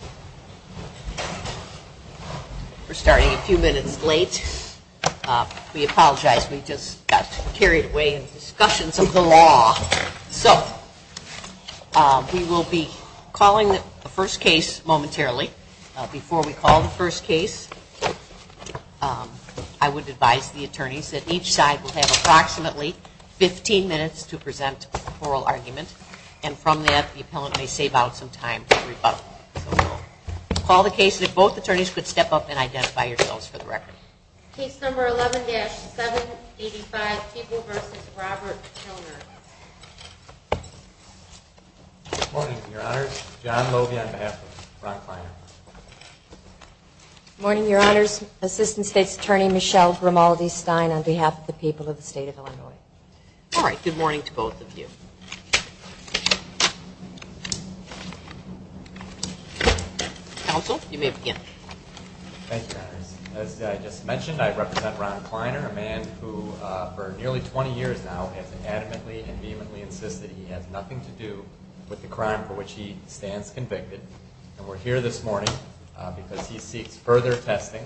We're starting a few minutes late. We apologize. We just got carried away in discussions of the law. So, we will be calling the first case momentarily. Before we call the first case, I would advise the attorneys that each side will have approximately 15 minutes to call the case. If both attorneys could step up and identify yourselves for the record. Case number 11-785, People v. Robert Kilner. Good morning, your honors. John Lovia on behalf of Ron Kliner. Good morning, your honors. Assistant State's Attorney Michelle Grimaldi Stein on behalf of the people of the state of Illinois. All right, good morning to both of you. Counsel, you may begin. Thank you, your honors. As I just mentioned, I represent Ron Kliner, a man who for nearly 20 years now has adamantly and vehemently insisted he has nothing to do with the crime for which he stands convicted. And we're here this morning because he seeks further testing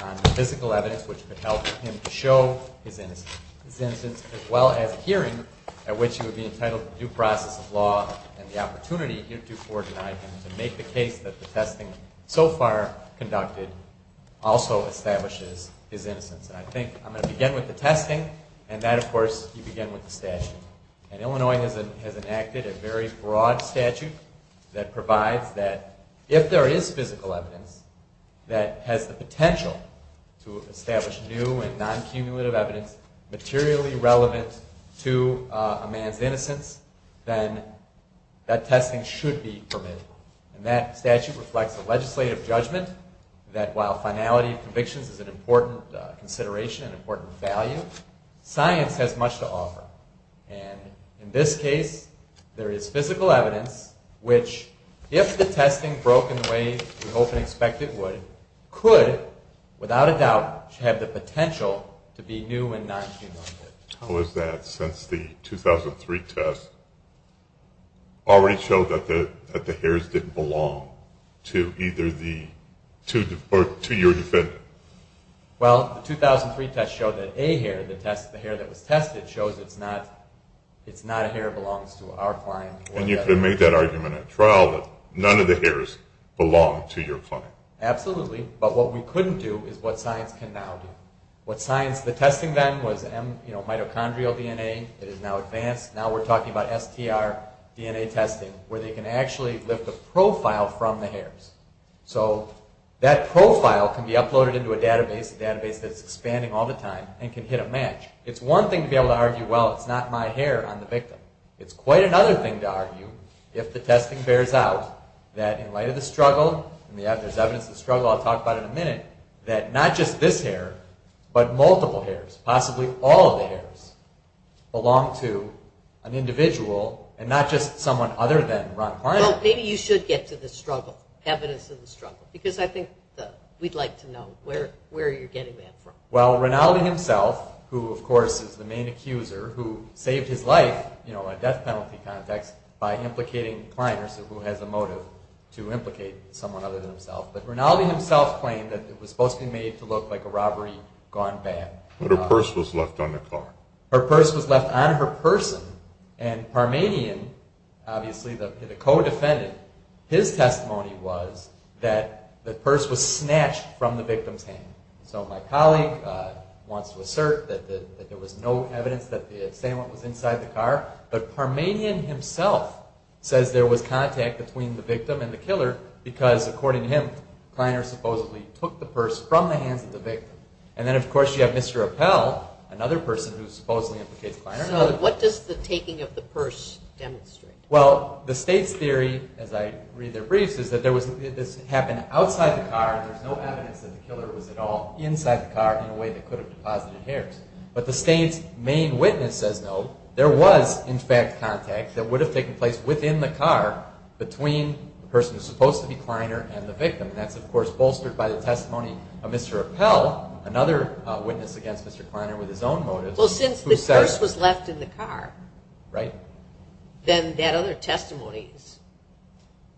on the physical evidence which could help him to show his which he would be entitled to due process of law and the opportunity heretofore denied him to make the case that the testing so far conducted also establishes his innocence. And I think I'm going to begin with the testing and that, of course, you begin with the statute. And Illinois has enacted a very broad statute that provides that if there is physical evidence that has the potential to establish new and non-cumulative evidence materially relevant to a man's innocence, then that testing should be permitted. And that statute reflects a legislative judgment that while finality of convictions is an important consideration and important value, science has much to offer. And in this case, there is physical evidence which if the testing broke in the way we hope and expect it would, could without a doubt have the potential to be new and non-cumulative. How is that since the 2003 test already showed that the hairs didn't belong to either the two-year defendant? Well, the 2003 test showed that a hair, the hair that was tested, shows it's not a hair that belongs to our client. And you could have made that argument at trial that none of the hairs belong to your client. Absolutely, but what we couldn't do is what science can now do. What science, the testing then was mitochondrial DNA, it is now advanced. Now we're talking about STR DNA testing where they can actually lift a profile from the hairs. So that profile can be uploaded into a database, a database that's expanding all the time, and can hit a match. It's one thing to be able to argue, well, it's not my hair on the victim. It's quite another thing to argue that evidence of struggle, I'll talk about in a minute, that not just this hair, but multiple hairs, possibly all of the hairs, belong to an individual and not just someone other than Ron Kleiner. Well, maybe you should get to the struggle, evidence of the struggle, because I think we'd like to know where you're getting that from. Well, Rinaldi himself, who of course is the main accuser, who saved his life, you know, a death penalty context, by implicating Kleiner, who has a motive to implicate someone other than himself. But Rinaldi himself claimed that it was supposed to be made to look like a robbery gone bad. But her purse was left on the car. Her purse was left on her person, and Parmanian, obviously the co-defendant, his testimony was that the purse was snatched from the victim's hand. So my colleague wants to assert that there was no evidence that the assailant was inside the car, but Parmanian himself says there was contact between the victim and the killer, because according to him, Kleiner supposedly took the purse from the hands of the victim. And then of course you have Mr. Appel, another person who supposedly implicates Kleiner. So what does the taking of the purse demonstrate? Well, the state's theory, as I read their briefs, is that this happened outside the car, there's no evidence that the killer was at all inside the car in a way that could have deposited hairs. But the state's main witness says no, there was in fact contact that would have taken place within the car between the person who's supposed to be Kleiner and the victim. And that's of course bolstered by the testimony of Mr. Appel, another witness against Mr. Kleiner with his own motives. Well, since the purse was left in the car, then that other testimony is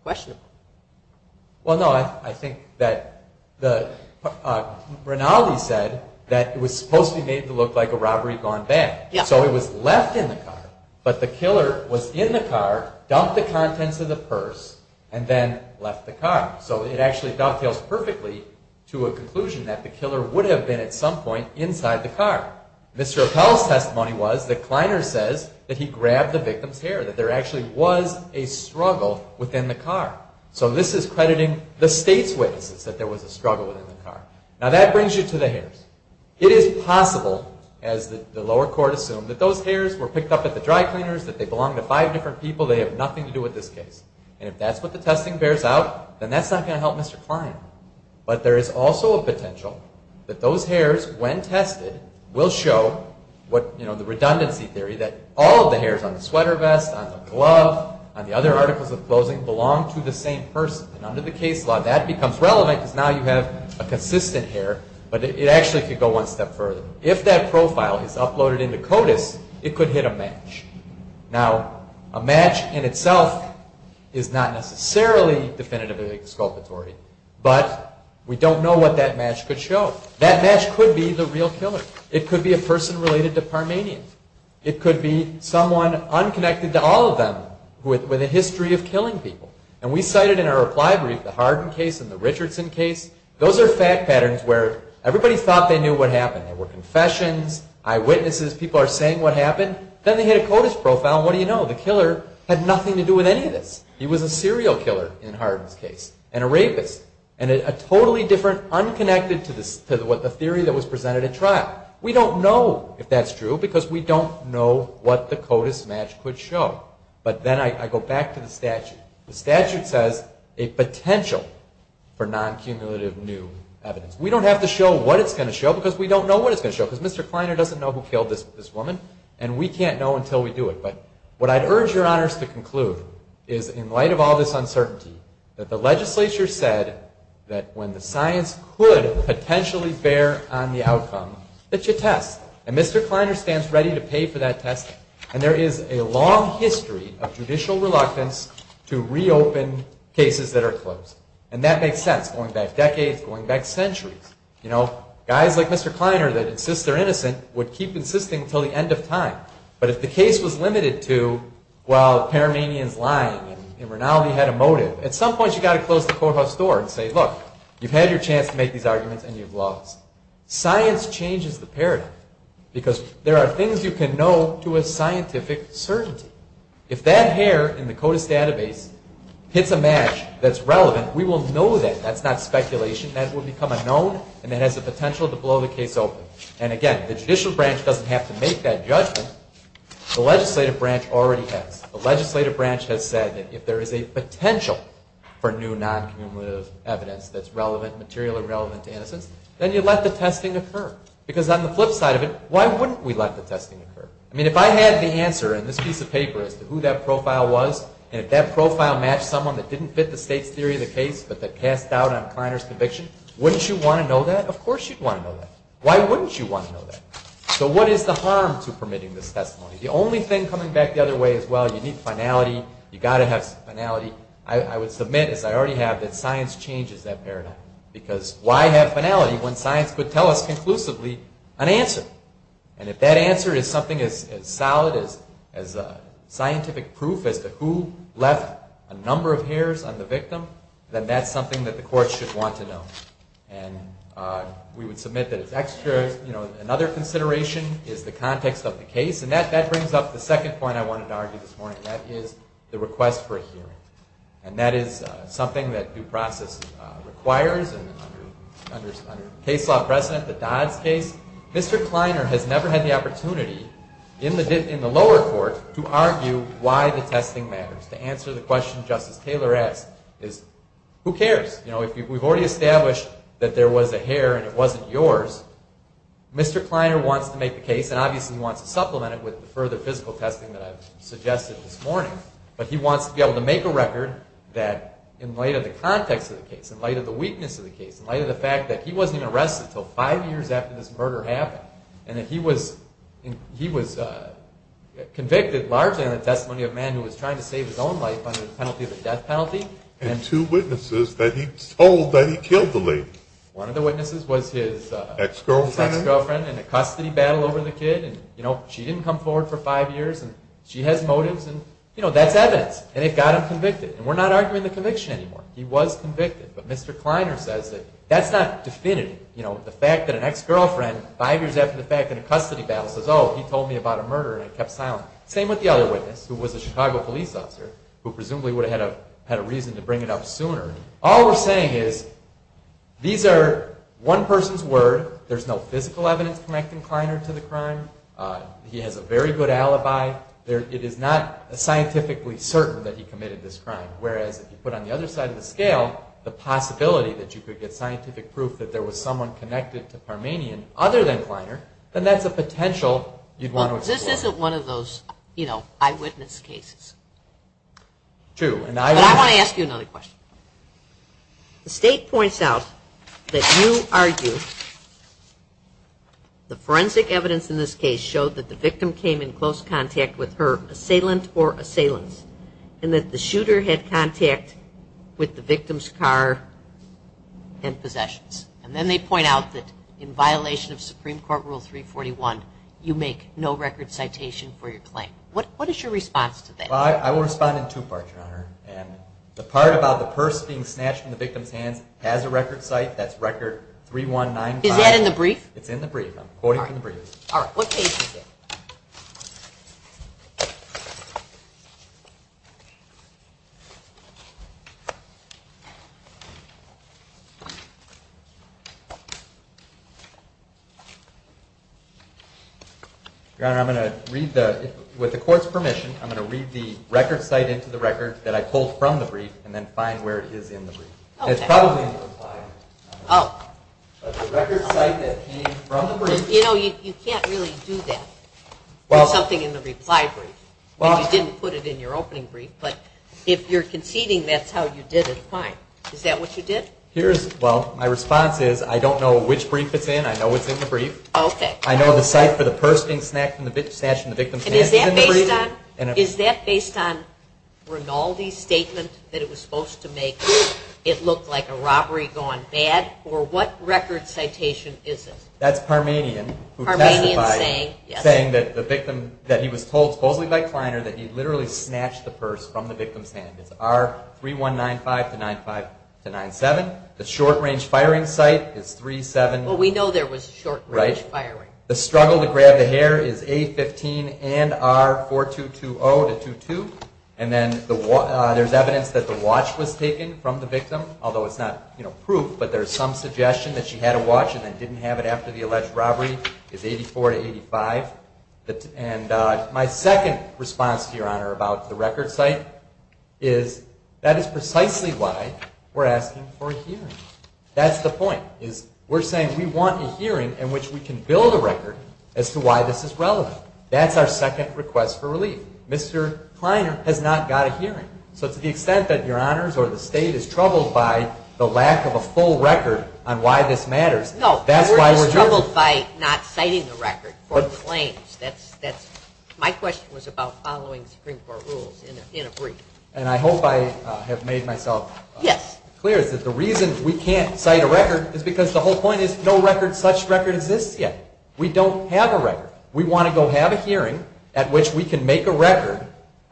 questionable. Well no, I think that, Rinaldi said that it was supposed to be made to look like a robbery gone bad. So it was left in the car, but the killer was in the car, dumped the contents of the purse, and then left the car. So it actually dovetails perfectly to a conclusion that the killer would have been at some point inside the car. Mr. Appel's testimony was that Kleiner says that he grabbed the victim's hair, that there actually was a struggle within the car. So this is crediting the state's witnesses that there was a struggle within the car. Now that brings you to the hairs. It is possible, as the lower court assumed, that those hairs were picked up at the dry cleaners, that they belonged to five different people, they have nothing to do with this case. And if that's what the testing bears out, then that's not going to help Mr. Kleiner. But there is also a potential that those hairs, when tested, will show what, you know, the redundancy theory, that all of the hairs on the sweater vest, on the glove, on the other articles of clothing, belong to the same person. And under the case law, that becomes relevant because now you have a consistent hair, but it actually could go one step further. If that profile is uploaded into CODIS, it could hit a match. Now, a match in itself is not necessarily definitively exculpatory, but we don't know what that match could show. That match could be the real killer. It could be a person related to Parmanian. It could be someone unconnected to all of them with a history of killing people. And we cited in our reply brief the Hardin case and the Richardson case. Those are fact patterns where everybody thought they knew what happened. There were confessions, eyewitnesses, people are saying what happened. Then they hit a CODIS profile and what do you know? The killer had nothing to do with any of this. He was a serial killer in Hardin's case, and a rapist, and a totally different, unconnected to the theory that was presented at trial. We don't know if that's true because we don't know what the CODIS match could show. But then I go back to the statute. The statute says a potential for non-cumulative new evidence. We don't have to show what it's going to show because we don't know what it's going to show because Mr. Kleiner doesn't know who killed this woman, and we can't know until we do it. But what I'd urge your honors to conclude is in light of all this uncertainty, that the legislature said that when the science could potentially bear on the outcome, that you test. And Mr. Kleiner stands ready to pay for that test. And there is a long history of judicial reluctance to reopen cases that are closed. And that makes sense, going back decades, going back centuries. You know, guys like Mr. Kleiner that insists they're innocent would keep insisting until the end of time. But if the case was limited to, well, Paramanian's lying and Rinaldi had a motive, at some point you've got to close the courthouse door and say, look, you've had your chance to make these arguments and you've lost. Science changes the paradigm. Because there are things you can know to a scientific certainty. If that hair in the CODIS database hits a match that's relevant, we will know that. That's not speculation. That will become unknown and it has the potential to blow the case open. And again, the judicial branch doesn't have to make that judgment. The legislative branch already has. The legislative branch has said that if there is a potential for new non-cumulative evidence that's relevant, material and relevant to innocence, then you let the testing occur. Because on the flip side of it, why wouldn't we let the testing occur? I mean, if I had the answer in this piece of paper as to who that profile was, and if that profile matched someone that didn't fit the state's theory of the case, but that cast doubt on Kleiner's conviction, wouldn't you want to know that? Of course you'd want to know that. Why wouldn't you want to know that? So what is the harm to permitting this testimony? The only thing coming back the other way as well, you need finality. You've got to have finality. I would submit, as I already have, that science changes that paradigm. Because why have finality when science could tell us conclusively an answer? And if that answer is something as solid as scientific proof as to who left a number of hairs on the victim, then that's something that the court should want to know. And we would submit that it's extra, you know, another consideration is the context of the case. And that brings up the second point I wanted to argue this morning. And that is something that due process requires under case law precedent, the Dodd's case. Mr. Kleiner has never had the opportunity in the lower court to argue why the testing matters. To answer the question Justice Taylor asked is, who cares? You know, if we've already established that there was a hair and it wasn't yours, Mr. Kleiner wants to make the case and obviously he wants to supplement it with the further physical testing that I've suggested this morning. But he wants to be able to make a record that in light of the context of the case, in light of the weakness of the case, in light of the fact that he wasn't even arrested until five years after this murder happened, and that he was convicted largely on the testimony of a man who was trying to save his own life under the penalty of the death penalty. And two witnesses that he told that he killed the lady. One of the witnesses was his ex-girlfriend in a custody battle over the kid. You know, she didn't come forward for five years and she has motives and, you know, that's evidence. And it got him convicted. And we're not arguing the conviction anymore. He was convicted. But Mr. Kleiner says that that's not definitive. You know, the fact that an ex-girlfriend, five years after the fact, in a custody battle says, oh, he told me about a murder and kept silent. Same with the other witness who was a Chicago police officer who presumably would have had a reason to bring it up sooner. All we're saying is these are one person's word. There's no physical evidence connecting Kleiner to the crime. He has a very good alibi. It is not scientifically certain that he committed this crime. Whereas if you put on the other side of the scale the possibility that you could get scientific proof that there was someone connected to Parmenian other than Kleiner, then that's a potential you'd want to explore. Well, this isn't one of those, you know, eyewitness cases. True. But I want to ask you another question. The state points out that you argue the forensic evidence in this case showed that the victim came in close contact with her assailant or assailants. And that the shooter had contact with the victim's car and possessions. And then they point out that in violation of Supreme Court Rule 341, you make no record citation for your claim. What is your response to that? Well, I will respond in two parts, Your Honor. And the part about the purse being snatched from the victim's hands has a record cite. That's record 3195. Is that in the brief? It's in the brief. I'm quoting from the brief. All right. What page is it? Your Honor, I'm going to read the, with the court's permission, I'm going to read the record cite into the record that I pulled from the brief and then find where it is in the brief. It's probably in the reply. Oh. But the record cite that came from the brief. You know, you can't really do that with something in the reply brief. You didn't put it in your opening brief. But if you're conceding that's how you did it, fine. Is that what you did? Here's, well, my response is I don't know which brief it's in. I know it's in the brief. Okay. I know the site for the purse being snatched from the victim's hands is in the brief. And is that based on, is that based on Rinaldi's statement that it was supposed to make it look like a robbery gone bad? Or what record citation is it? That's Parmanian. Parmanian saying, yes. Saying that the victim, that he was told, supposedly by Kleiner, that he literally snatched the purse from the victim's hand. It's R3195 to 95 to 97. The short-range firing site is 37. Well, we know there was short-range firing. The struggle to grab the hair is A15 and R4220 to 22. And then the, there's evidence that the watch was taken from the victim, although it's not, you know, proof. But there's some suggestion that she had a watch and then didn't have it after the alleged robbery is 84 to 85. And my second response to your honor about the record site is that is precisely why we're asking for a hearing. That's the point is we're saying we want a hearing in which we can build a record as to why this is relevant. That's our second request for relief. Mr. Kleiner has not got a hearing. So to the extent that your honors or the state is troubled by the lack of a full record on why this matters, that's why we're here. No, we're just troubled by not citing the record for claims. That's, that's, my question was about following Supreme Court rules in a brief. And I hope I have made myself clear is that the reason we can't cite a record is because the whole point is no record, such record exists yet. We don't have a record. We want to go have a hearing at which we can make a record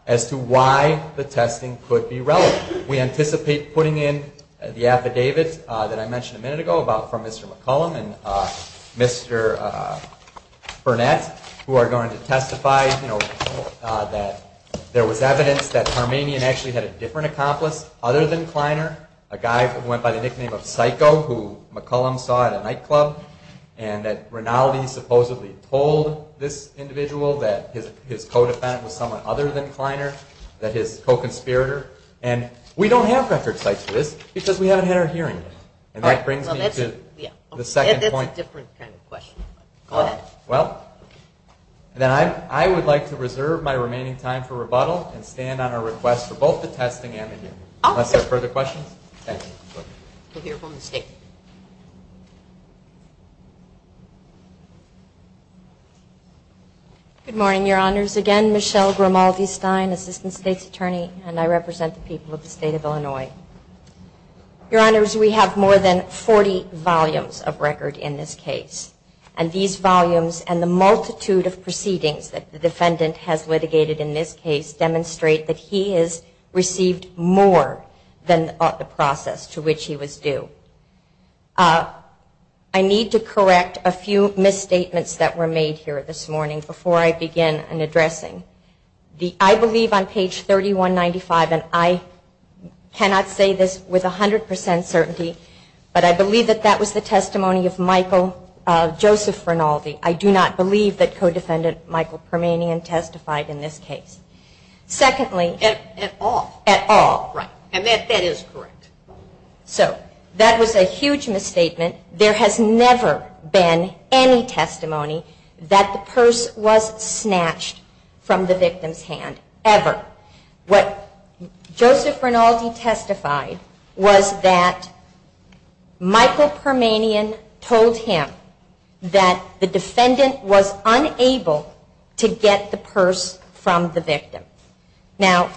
as to why the testing could be relevant. We anticipate putting in the affidavit that I mentioned a minute ago about from Mr. McCollum and Mr. Burnett who are going to testify, you know, that there was evidence that Harmanian actually had a different accomplice other than Kleiner, a guy who went by the nickname of Psycho who McCollum saw at a nightclub and that Rinaldi supposedly told this individual that his co-defendant was someone other than Kleiner, that his co-conspirator. And we don't have record cites for this because we haven't had our hearing yet. And that brings me to the second point. That's a different kind of question. Go ahead. Well, then I would like to reserve my remaining time for rebuttal and stand on our request for both the testing and the hearing. Unless there are further questions. Thank you. Good morning, Your Honors. Again, Michelle Grimaldi-Stein, Assistant State's Attorney and I represent the people of the State of Illinois. Your Honors, we have more than 40 volumes of record in this case. And these volumes and the multitude of proceedings that the defendant has litigated in this case demonstrate that he has received more than the process to which he was due. I need to correct a few misstatements that were made here this morning before I begin in addressing. I believe on page 3195, and I cannot say this with 100% certainty, but I believe that that was the testimony of Michael Joseph Grimaldi. I do not believe that co-defendant Michael Permanian testified in this case. Secondly... At all. At all. Right. And that is correct. So, that was a huge misstatement. There has never been any testimony that the purse was snatched from the victim's hand. Ever. What Joseph Grimaldi testified was that Michael Permanian told him that the defendant was unable to get the purse from the victim. Now,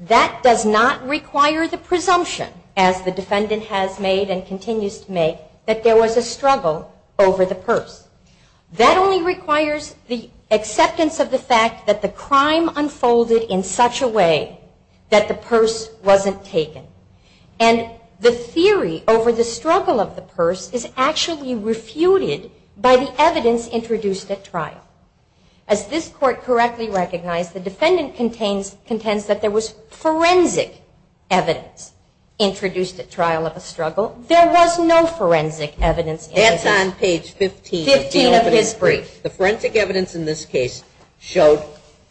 that does not require the presumption as the defendant has made and continues to make that there was a struggle over the purse. That only requires the acceptance of the fact that the crime unfolded in such a way that the purse wasn't taken. And the theory over the struggle of the purse is actually refuted by the evidence introduced at trial. As this court correctly recognized, the defendant contends that there was forensic evidence introduced at trial of a struggle. There was no forensic evidence. That's on page 15. 15 of his brief. The forensic evidence in this case showed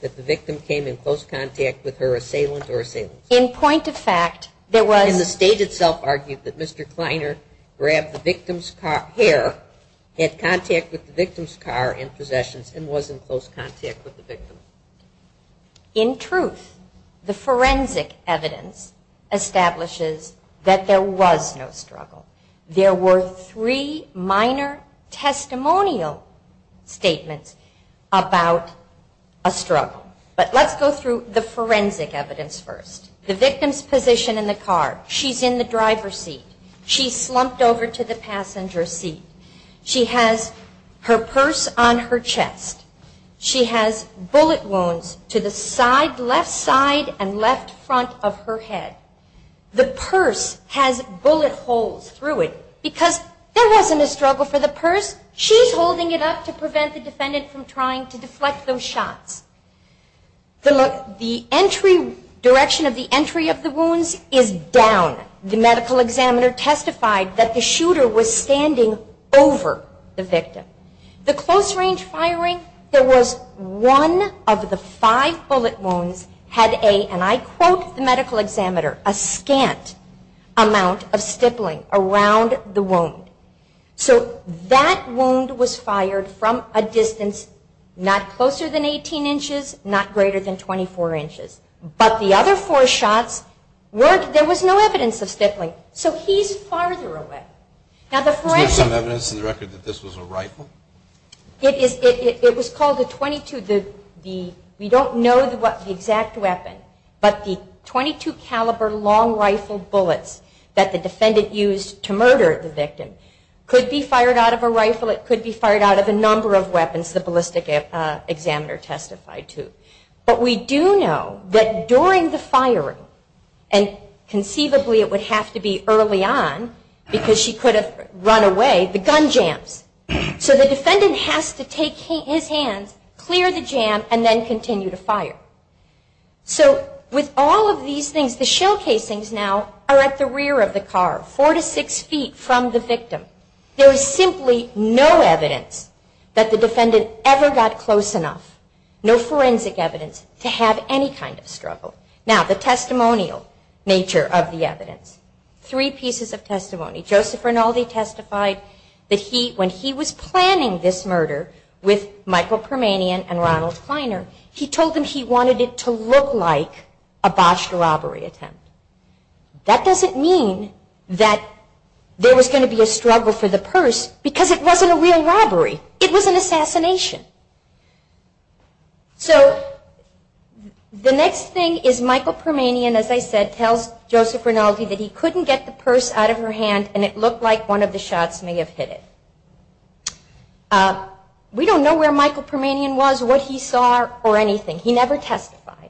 that the victim came in close contact with her assailant or assailant. In point of fact, there was... And the state itself argued that Mr. Kleiner grabbed the victim's hair, had contact with the victim's car and possessions, and was in close contact with the victim. In truth, the forensic evidence establishes that there was no struggle. There were three minor testimonial statements about a struggle. But let's go through the forensic evidence first. The victim's position in the car. She's in the driver's seat. She slumped over to the passenger seat. She has her purse on her chest. She has bullet wounds to the side, left side and left front of her head. The purse has bullet holes through it because there wasn't a struggle for the purse. She's holding it up to prevent the defendant from trying to deflect those shots. The direction of the entry of the wounds is down. The medical examiner testified that the shooter was standing over the victim. The close-range firing, there was one of the five bullet wounds had a, and I quote the medical examiner, a scant amount of stippling around the wound. So that wound was fired from a distance not closer than 18 inches, not greater than 24 inches. But the other four shots weren't, there was no evidence of stippling. So he's farther away. Is there some evidence in the record that this was a rifle? It is, it was called a 22, the, we don't know the exact weapon, but the 22 caliber long rifle bullets that the defendant used to murder the victim could be fired out of a rifle, it could be fired out of a number of weapons the ballistic examiner testified to. But we do know that during the firing and conceivably it would have to be early on because she could have run away, the gun jams. So the defendant has to take his hands, clear the jam and then continue to fire. So with all of these things, the shell casings now are at the rear of the car, four to six feet from the victim. There is simply no evidence that the defendant ever got close enough, no forensic evidence, to have any kind of struggle. Now the testimonial nature of the evidence. Three pieces of testimony. Joseph Rinaldi testified that he, when he was planning this murder with Michael Permanian and Ronald Kleiner, he told them he wanted it to look like a botched robbery attempt. That doesn't mean that there was going to be a struggle for the purse because it wasn't a real robbery. It was an assassination. So the next thing is Michael Permanian, as I said, tells Joseph Rinaldi that he couldn't get the purse out of her hand and it looked like one of the shots may have hit it. We don't know where Michael Permanian was, what he saw, or anything. He never testified.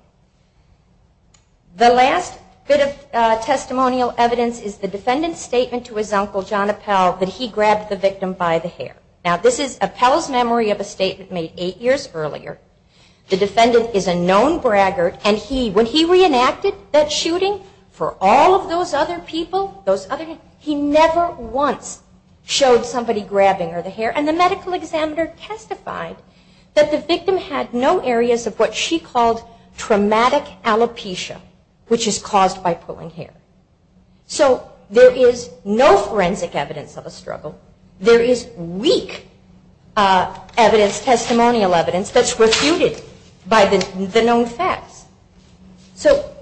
The last bit of testimonial evidence is the defendant's statement to his uncle, John Appell, that he grabbed the victim by the hair. Now this is Appell's memory of a statement made eight years earlier. The defendant is a known braggart and when he reenacted that shooting for all of those other people, he never once showed somebody grabbing her hair and the medical examiner testified that the victim had no areas of what she called traumatic alopecia, which is caused by pulling hair. So there is no forensic evidence of a struggle. There is weak testimonial evidence that's refuted by the known facts. So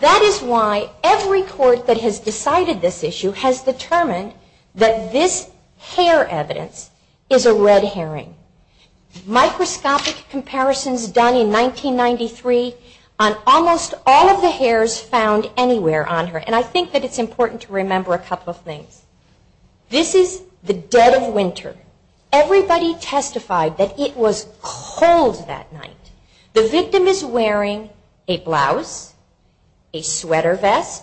that is why every court that has decided this issue has determined that this hair evidence is a red herring. Microscopic comparisons done in 1993 on almost all of the hairs found anywhere on her and I think that it's important to remember a couple of things. This is the dead of winter. Everybody testified that it was cold that night. The victim is wearing a blouse, a sweater vest,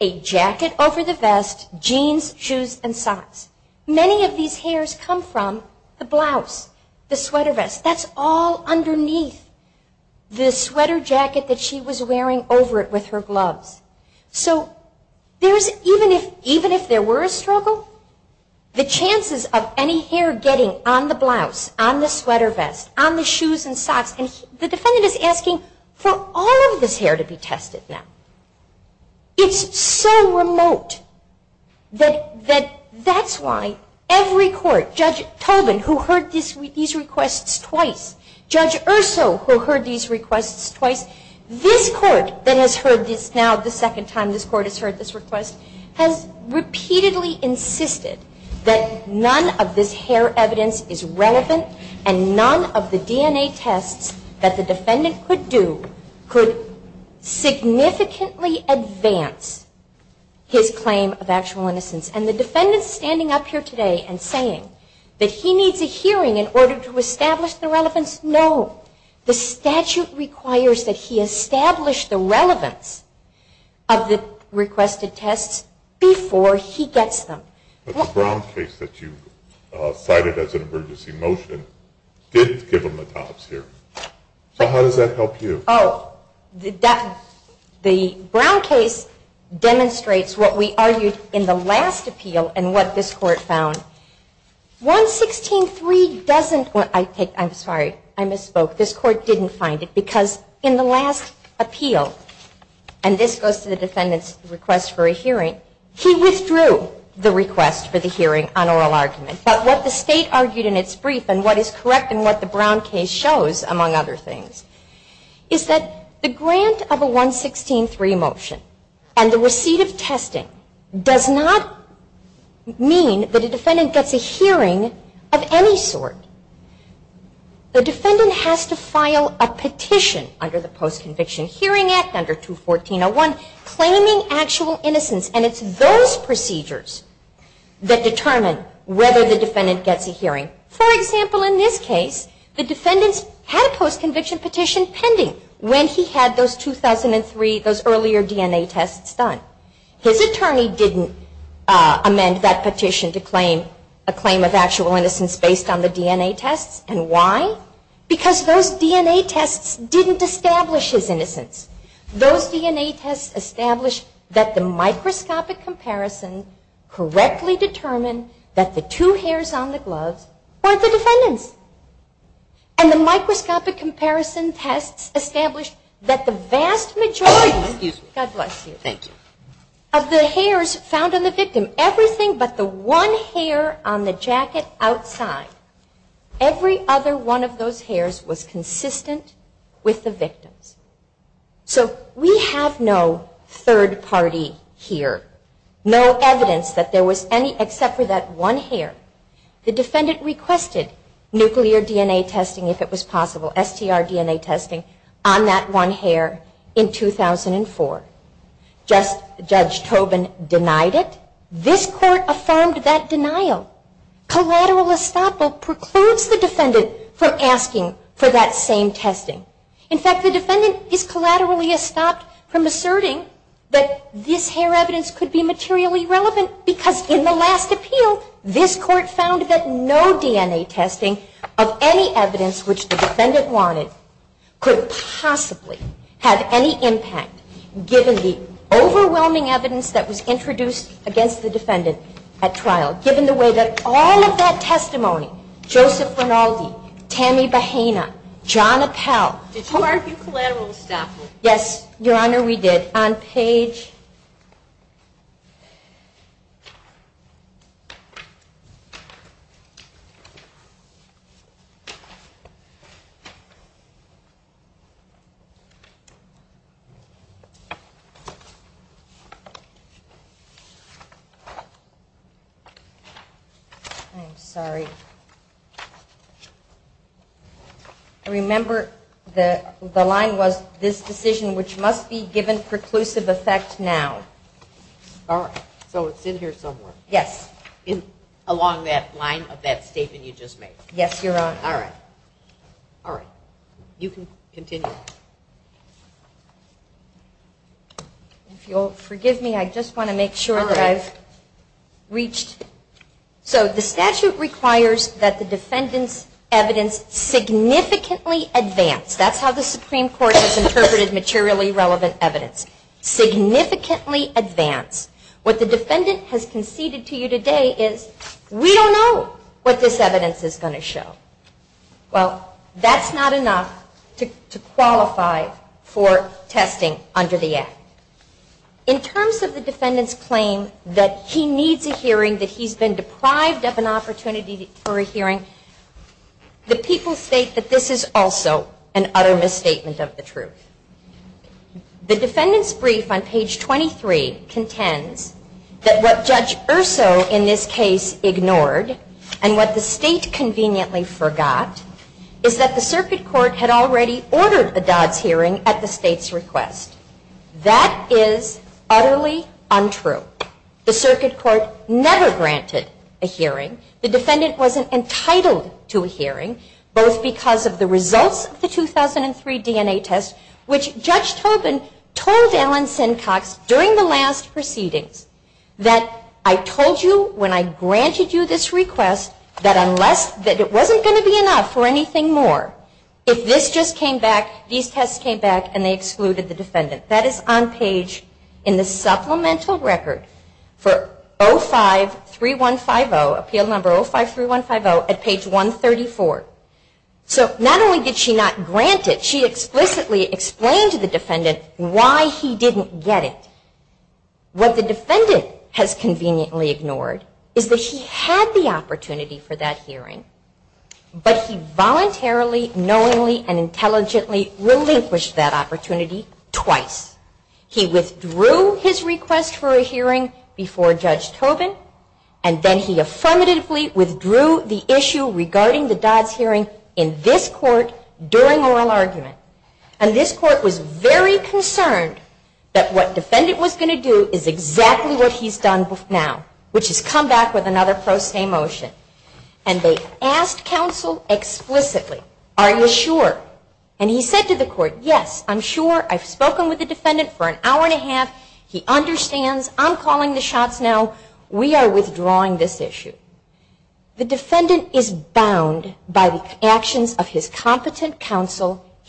a jacket over the vest, jeans, shoes, and socks. Many of these hairs come from the blouse, the sweater vest. That's all underneath the sweater jacket that she was wearing over it with her gloves. So even if there were a struggle, the chances of any hair getting on the blouse, on the sweater vest, on the shoes and socks, and the defendant is asking for all of this hair to be tested now. It's so remote that that's why every court, Judge Tobin who heard these requests twice, Judge Urso who heard these requests twice, this court that has heard this now the second time this court has heard this request, has repeatedly insisted that none of this hair evidence is relevant and none of the DNA tests that the defendant could do could significantly advance his claim of actual innocence. And the defendant standing up here today and saying that he needs a hearing in order to establish the relevance, no. The statute requires that he establish the relevance of the requested tests before he gets them. The Brown case that you cited as an emergency motion didn't give him the tops here. So how does that help you? Oh, the Brown case demonstrates what we argued in the last appeal and what this court found. 116.3 doesn't, I'm sorry, I misspoke. This court didn't find it because in the last appeal, and this goes to the defendant's request for a hearing, he withdrew the request for the hearing on oral argument. But what the state argued in its brief and what is correct and what the Brown case shows among other things is that the grant of a 116.3 motion and the receipt of testing does not mean that a defendant gets a hearing of any sort. The defendant has to file a petition under the Post-Conviction Hearing Act under 214.01 claiming actual innocence and it's those procedures that determine whether the defendant gets a hearing. For example, in this case, the defendants had a post-conviction petition pending when he had those 2003, those earlier DNA tests done. His attorney didn't amend that petition to claim a claim of actual innocence based on the DNA tests. And why? Because those DNA tests didn't establish his innocence. Those DNA tests established that the microscopic comparison correctly determined that the two hairs on the gloves weren't the defendant's. And the microscopic comparison tests established that the vast majority of the hairs found on the victim, everything but the one hair on the jacket outside, every other one of those hairs was consistent with the victim's. So we have no third party here. No evidence that there was any except for that one hair. The defendant requested nuclear DNA testing, if it was possible, STR DNA testing on that one hair in 2004. Judge Tobin denied it. This court affirmed that denial. Collateral estoppel precludes the defendant from asking for that same testing. In fact, the defendant is collaterally estopped from asserting that this hair evidence could be materially relevant because in the last appeal this court found that no DNA testing of any evidence which the defendant wanted could possibly have any impact given the overwhelming evidence that was introduced against the defendant at trial. Given the way that all of that testimony Joseph Rinaldi, Tammy Bahena, John Appel Did you argue collateral estoppel? Yes, Your Honor, we did. On page I'm sorry. I remember the line was this decision which must be no matter how much evidence the defendant has. All right. So it's in here somewhere. Yes. Along that line of that statement you just made. Yes, Your Honor. All right. You can continue. If you'll forgive me I just want to make sure that I've reached So the statute requires that the defendant's evidence significantly advance. That's how the Supreme Court has interpreted materially relevant evidence. Significantly advance. What the defendant has conceded to you today is we don't know what this evidence is going to show. Well, that's not enough to qualify for testing under the Act. In terms of the defendant's claim that he needs a hearing, that he's been deprived of an opportunity for a hearing, the people state that this is also an utter misstatement of the truth. The defendant's brief on page 23 contends that what Judge Urso in this case ignored and what the state conveniently forgot is that the circuit court had already ordered a Dodd's hearing at the state's Supreme Court. this is on page 24 of the results of the 2003 DNA test, which Judge Tobin told Allen Sincox during the last proceedings that I told you when I granted you this request that it wasn't going to be enough for anything more. If this just came back, these tests came back and they excluded the defendant. That is on page in the supplemental record for appeal number 053150 at page 134. So not only did she not grant it, she explicitly explained to the defendant why he didn't get it. What the defendant has conveniently ignored is that he had the opportunity for that hearing, but he voluntarily, knowingly, and intelligently relinquished that opportunity twice. He withdrew his request for a hearing before Judge Tobin and then he was concerned that what defendant was going to do is exactly what he's done now, which is come back with another pro se motion. And they asked counsel explicitly, are you sure? And he said to the court, yes, I'm sure, I've spoken with the defendant for an hour and a half, he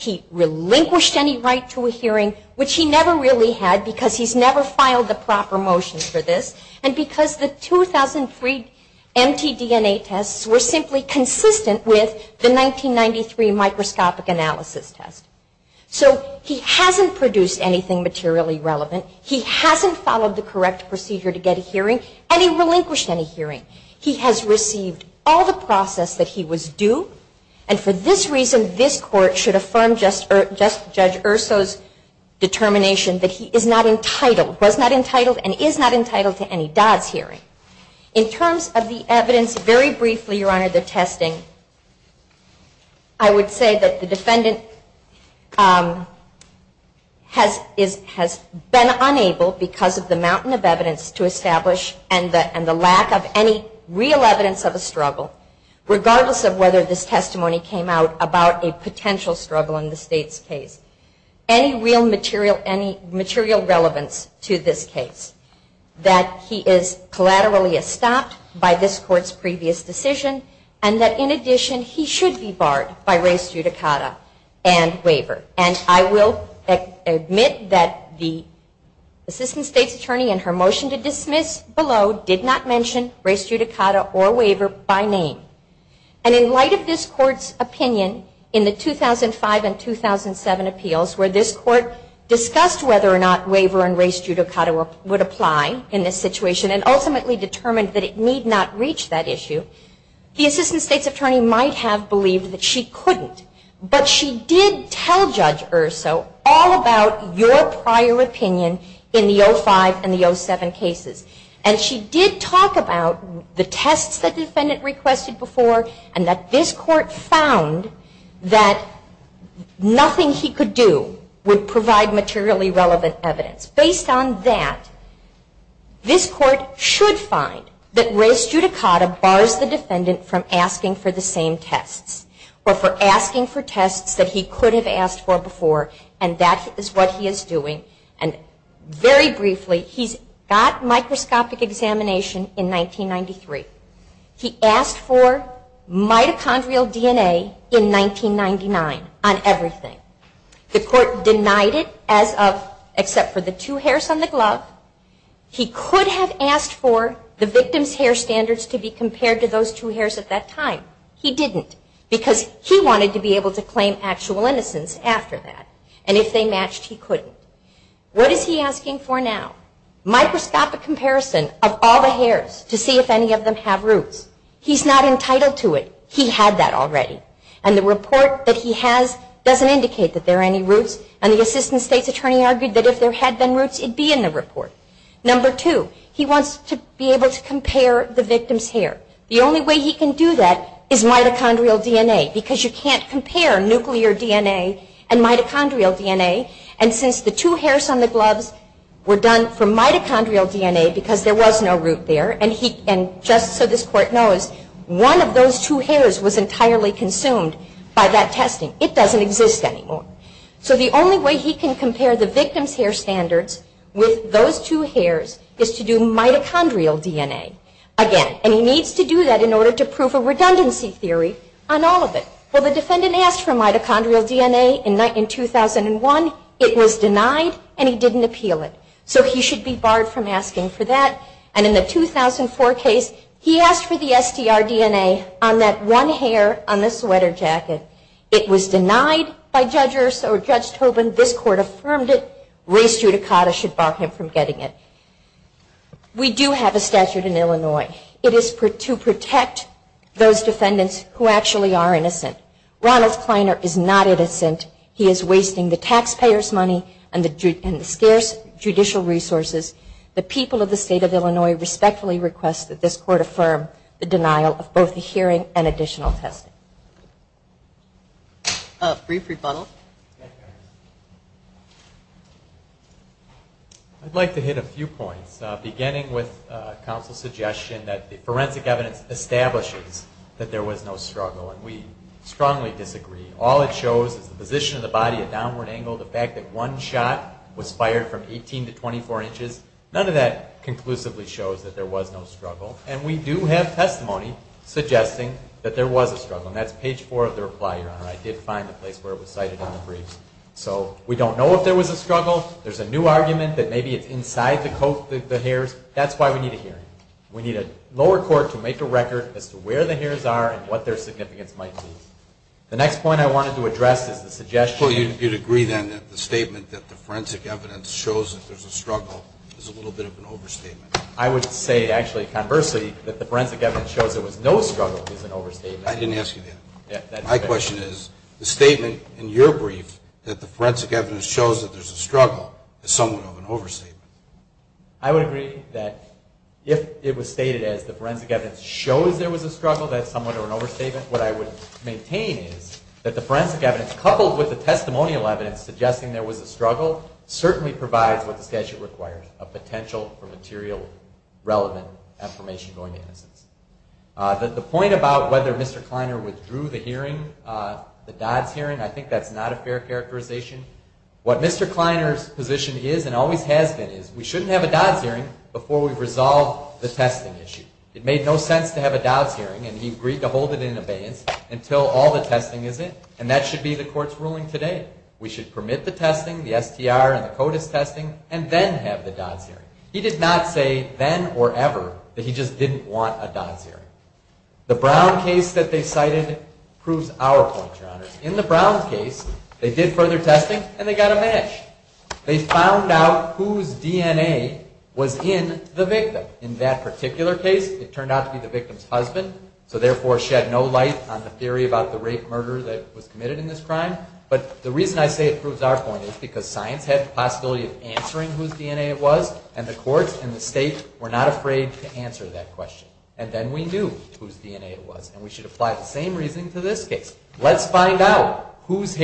hasn't relinquished any right to a hearing, which he never really had, because he's never filed the proper motion for this, and because the 2003 mtDNA tests were simply consistent with the 1993 microscopic analysis test. So he hasn't produced anything materially relevant, he hasn't followed the correct procedure to get a hearing, and he relinquished any hearing. He has received all the process that he was due, and for this reason this court should affirm Judge Urso's determination that he is not entitled, was not entitled, and is not entitled to any Dodd's hearing. In terms of the evidence, very briefly Your Honor, the testing, I would say that the defendant has been unable because of the mountain of evidence to establish and the lack of any real evidence of a struggle, regardless of whether this testimony came out about a potential struggle in the state's case. Any real material relevance to this case, that he is collaterally stopped by this court's previous decision, and that in addition he should be barred by race judicata and waiver. And I will admit that the assistant state's attorney in her motion to dismiss below did not mention race judicata or waiver by name. And in light of this court's opinion in the 2005 and 2007 appeals where this court discussed whether or not waiver and race judicata would apply in this situation and ultimately determined that it need not reach that issue, the assistant state's attorney might have believed that she couldn't. But she did tell Judge Erso all about your prior opinion in the 2005 and the 2007 cases. And she did talk about the tests the defendant requested before and that this court found that nothing he could do would provide materially relevant evidence. Based on that, this court should find that race judicata bars the defendant from asking for the same evidence he asked for mitochondrial DNA in 1999 on everything. The court denied it as of except for the two hairs on the glove. He could have asked for the victim's hair standards to be compared to those two hairs at that time. He didn't because he wanted to be able to claim actual innocence after that and if they matched he couldn't. What is he asking for now? Microscopic comparison of all the hairs to see if any of them have roots. He's not entitled to it. He had that already and the report that he has doesn't indicate that there are any roots and the Assistant State Attorney argued that if there had been roots it would be in the report. Number two, he wants to be able to compare the victim's hair. The only way he can do that is mitochondrial DNA because you can't compare nuclear DNA and mitochondrial DNA and since the two hairs on the gloves were done from mitochondrial DNA because there was no root there and just so this Court knows, one of those two hairs was entirely consumed by that testing. It doesn't exist anymore. So the only way he can compare one of the victim's hair standards with those two hairs is to do mitochondrial DNA again and he needs to do that in order to prove a redundancy theory on all of it. Well the defendant asked for mitochondrial DNA in 2001. It was denied and he didn't appeal it so he should be barred from asking for that and in the 2004 case he asked for the SDR DNA on that one hair on the sweater jacket. It was denied by Judge Tobin. This court affirmed it. We do have a statute in Illinois. It is to protect those defendants who actually are defendants who and we are doing our best to protect them. We do have testimony suggesting there was a struggle there and we do have testimony suggesting there was a struggle there and we do have testimony suggesting there was a struggle there and we do have testimony suggesting there was a struggle there and we do have testimony suggesting there was struggle there. Sergio, I agree that if the forensic evidence shows that there is a struggle then when we plant the facts that we found here we needed to have a I don't know whether Mr. Kleiner withdrew the hearing, the Dodds hearing. I think that's not a fair characterization. What Mr. Kleiner's position is and always has been is we shouldn't have a Dodds hearing before we've resolved the testing issue. It made no sense to have a Dodds hearing and he agreed to hold it in abeyance until all the testing is in. And that should be the court's ruling today. We should permit the testing, the STR and the CODIS testing and then have the Dodds hearing. He did not say then or ever that he just didn't want a Dodds hearing. The Brown case proves our point. In the Brown case they did further testing and they got a match. They found out whose DNA was in the victim. In that particular case it in the victim's DNA. And therefore shed no light on the theory about the rape murder that was committed in this crime. But the reason I say it proves our point is because science had the possibility of answering whose DNA it was and the courts and the state were not able to answer the question. The STR testing allows us to answer the question about whose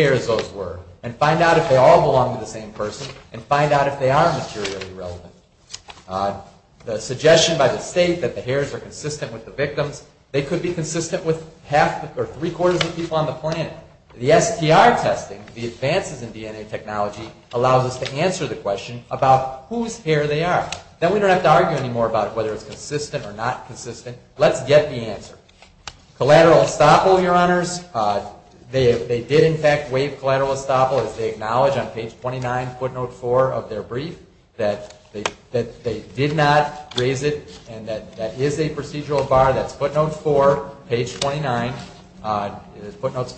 hair they are. Then we don't have to argue about whether it's consistent or not. Let's get the answer. Collateral estoppel, your honors, they did acknowledge on page 29, footnote 4 of their brief that they did not raise it and that is a procedural bar. That's footnote 4, page 29. The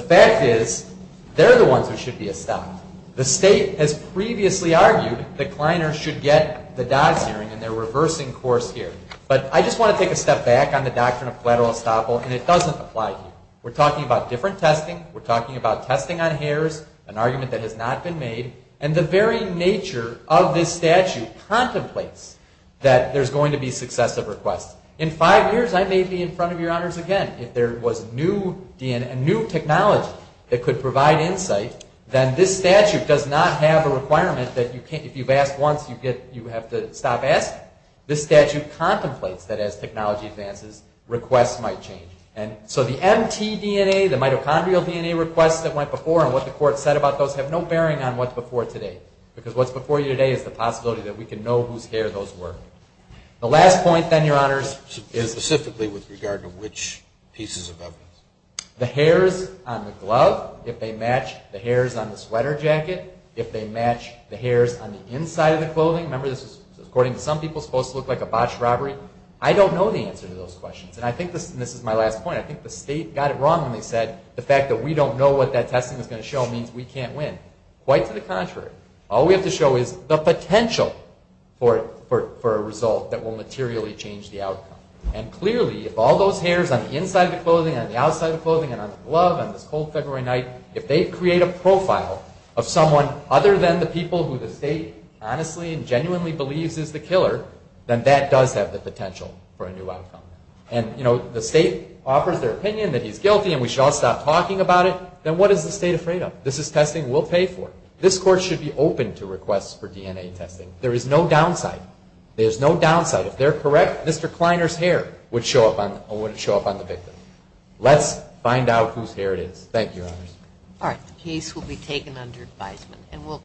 fact is they're the ones who should be estoppeled. The state has previously argued that Kleiner should get the dox hearing and they're reversing course here. But I just want to take a step back on the doctrine of collateral estoppel and it doesn't apply here. We're talking about different testing, we're talking about testing on hairs, an argument that has not been made, and the very nature of this statute contemplates that there's going to be successive requests. In five years I may be in front of your honors again if there was new technology that could provide insight then this statute does not have a requirement that if you've asked once you have to stop asking. This statute contemplates that as technology advances requests might change. So the MT DNA, the mitochondrial DNA request that went before and what the court said about those have no bearing on what's before today because what's before you today is the possibility that we can know whose hair those were. The last point then your honors is specifically with regard to which pieces of evidence. The hairs on the glove, if they match the hairs on the sweater jacket, if they match the hairs on the inside of the clothing. Remember this is according to some people supposed to look like a botched robbery. I don't know the answer to those questions. I think this is my last point. I think the state got it wrong when they said the fact that we don't know what that testing is going to show means we can't win. Quite to the contrary. All we have to show is the potential for a result that will materially change the outcome. Clearly if all those hairs on the inside of the clothing, on the outside of the clothing, on the glove, on this cold February night, if they create a profile of someone other than the people who the state honestly and genuinely believes is the killer, then that does have the potential for a new outcome. The state offers their opinion that he's guilty and we should all stop talking about it, then what is the state afraid of? This is testing we'll pay for. This court should be open to requests for DNA testing. There is no downside. There is no downside. If they're correct, Mr. Kleiner's hair would show up on the victim. Let's find out whose hair it is. The case will be taken under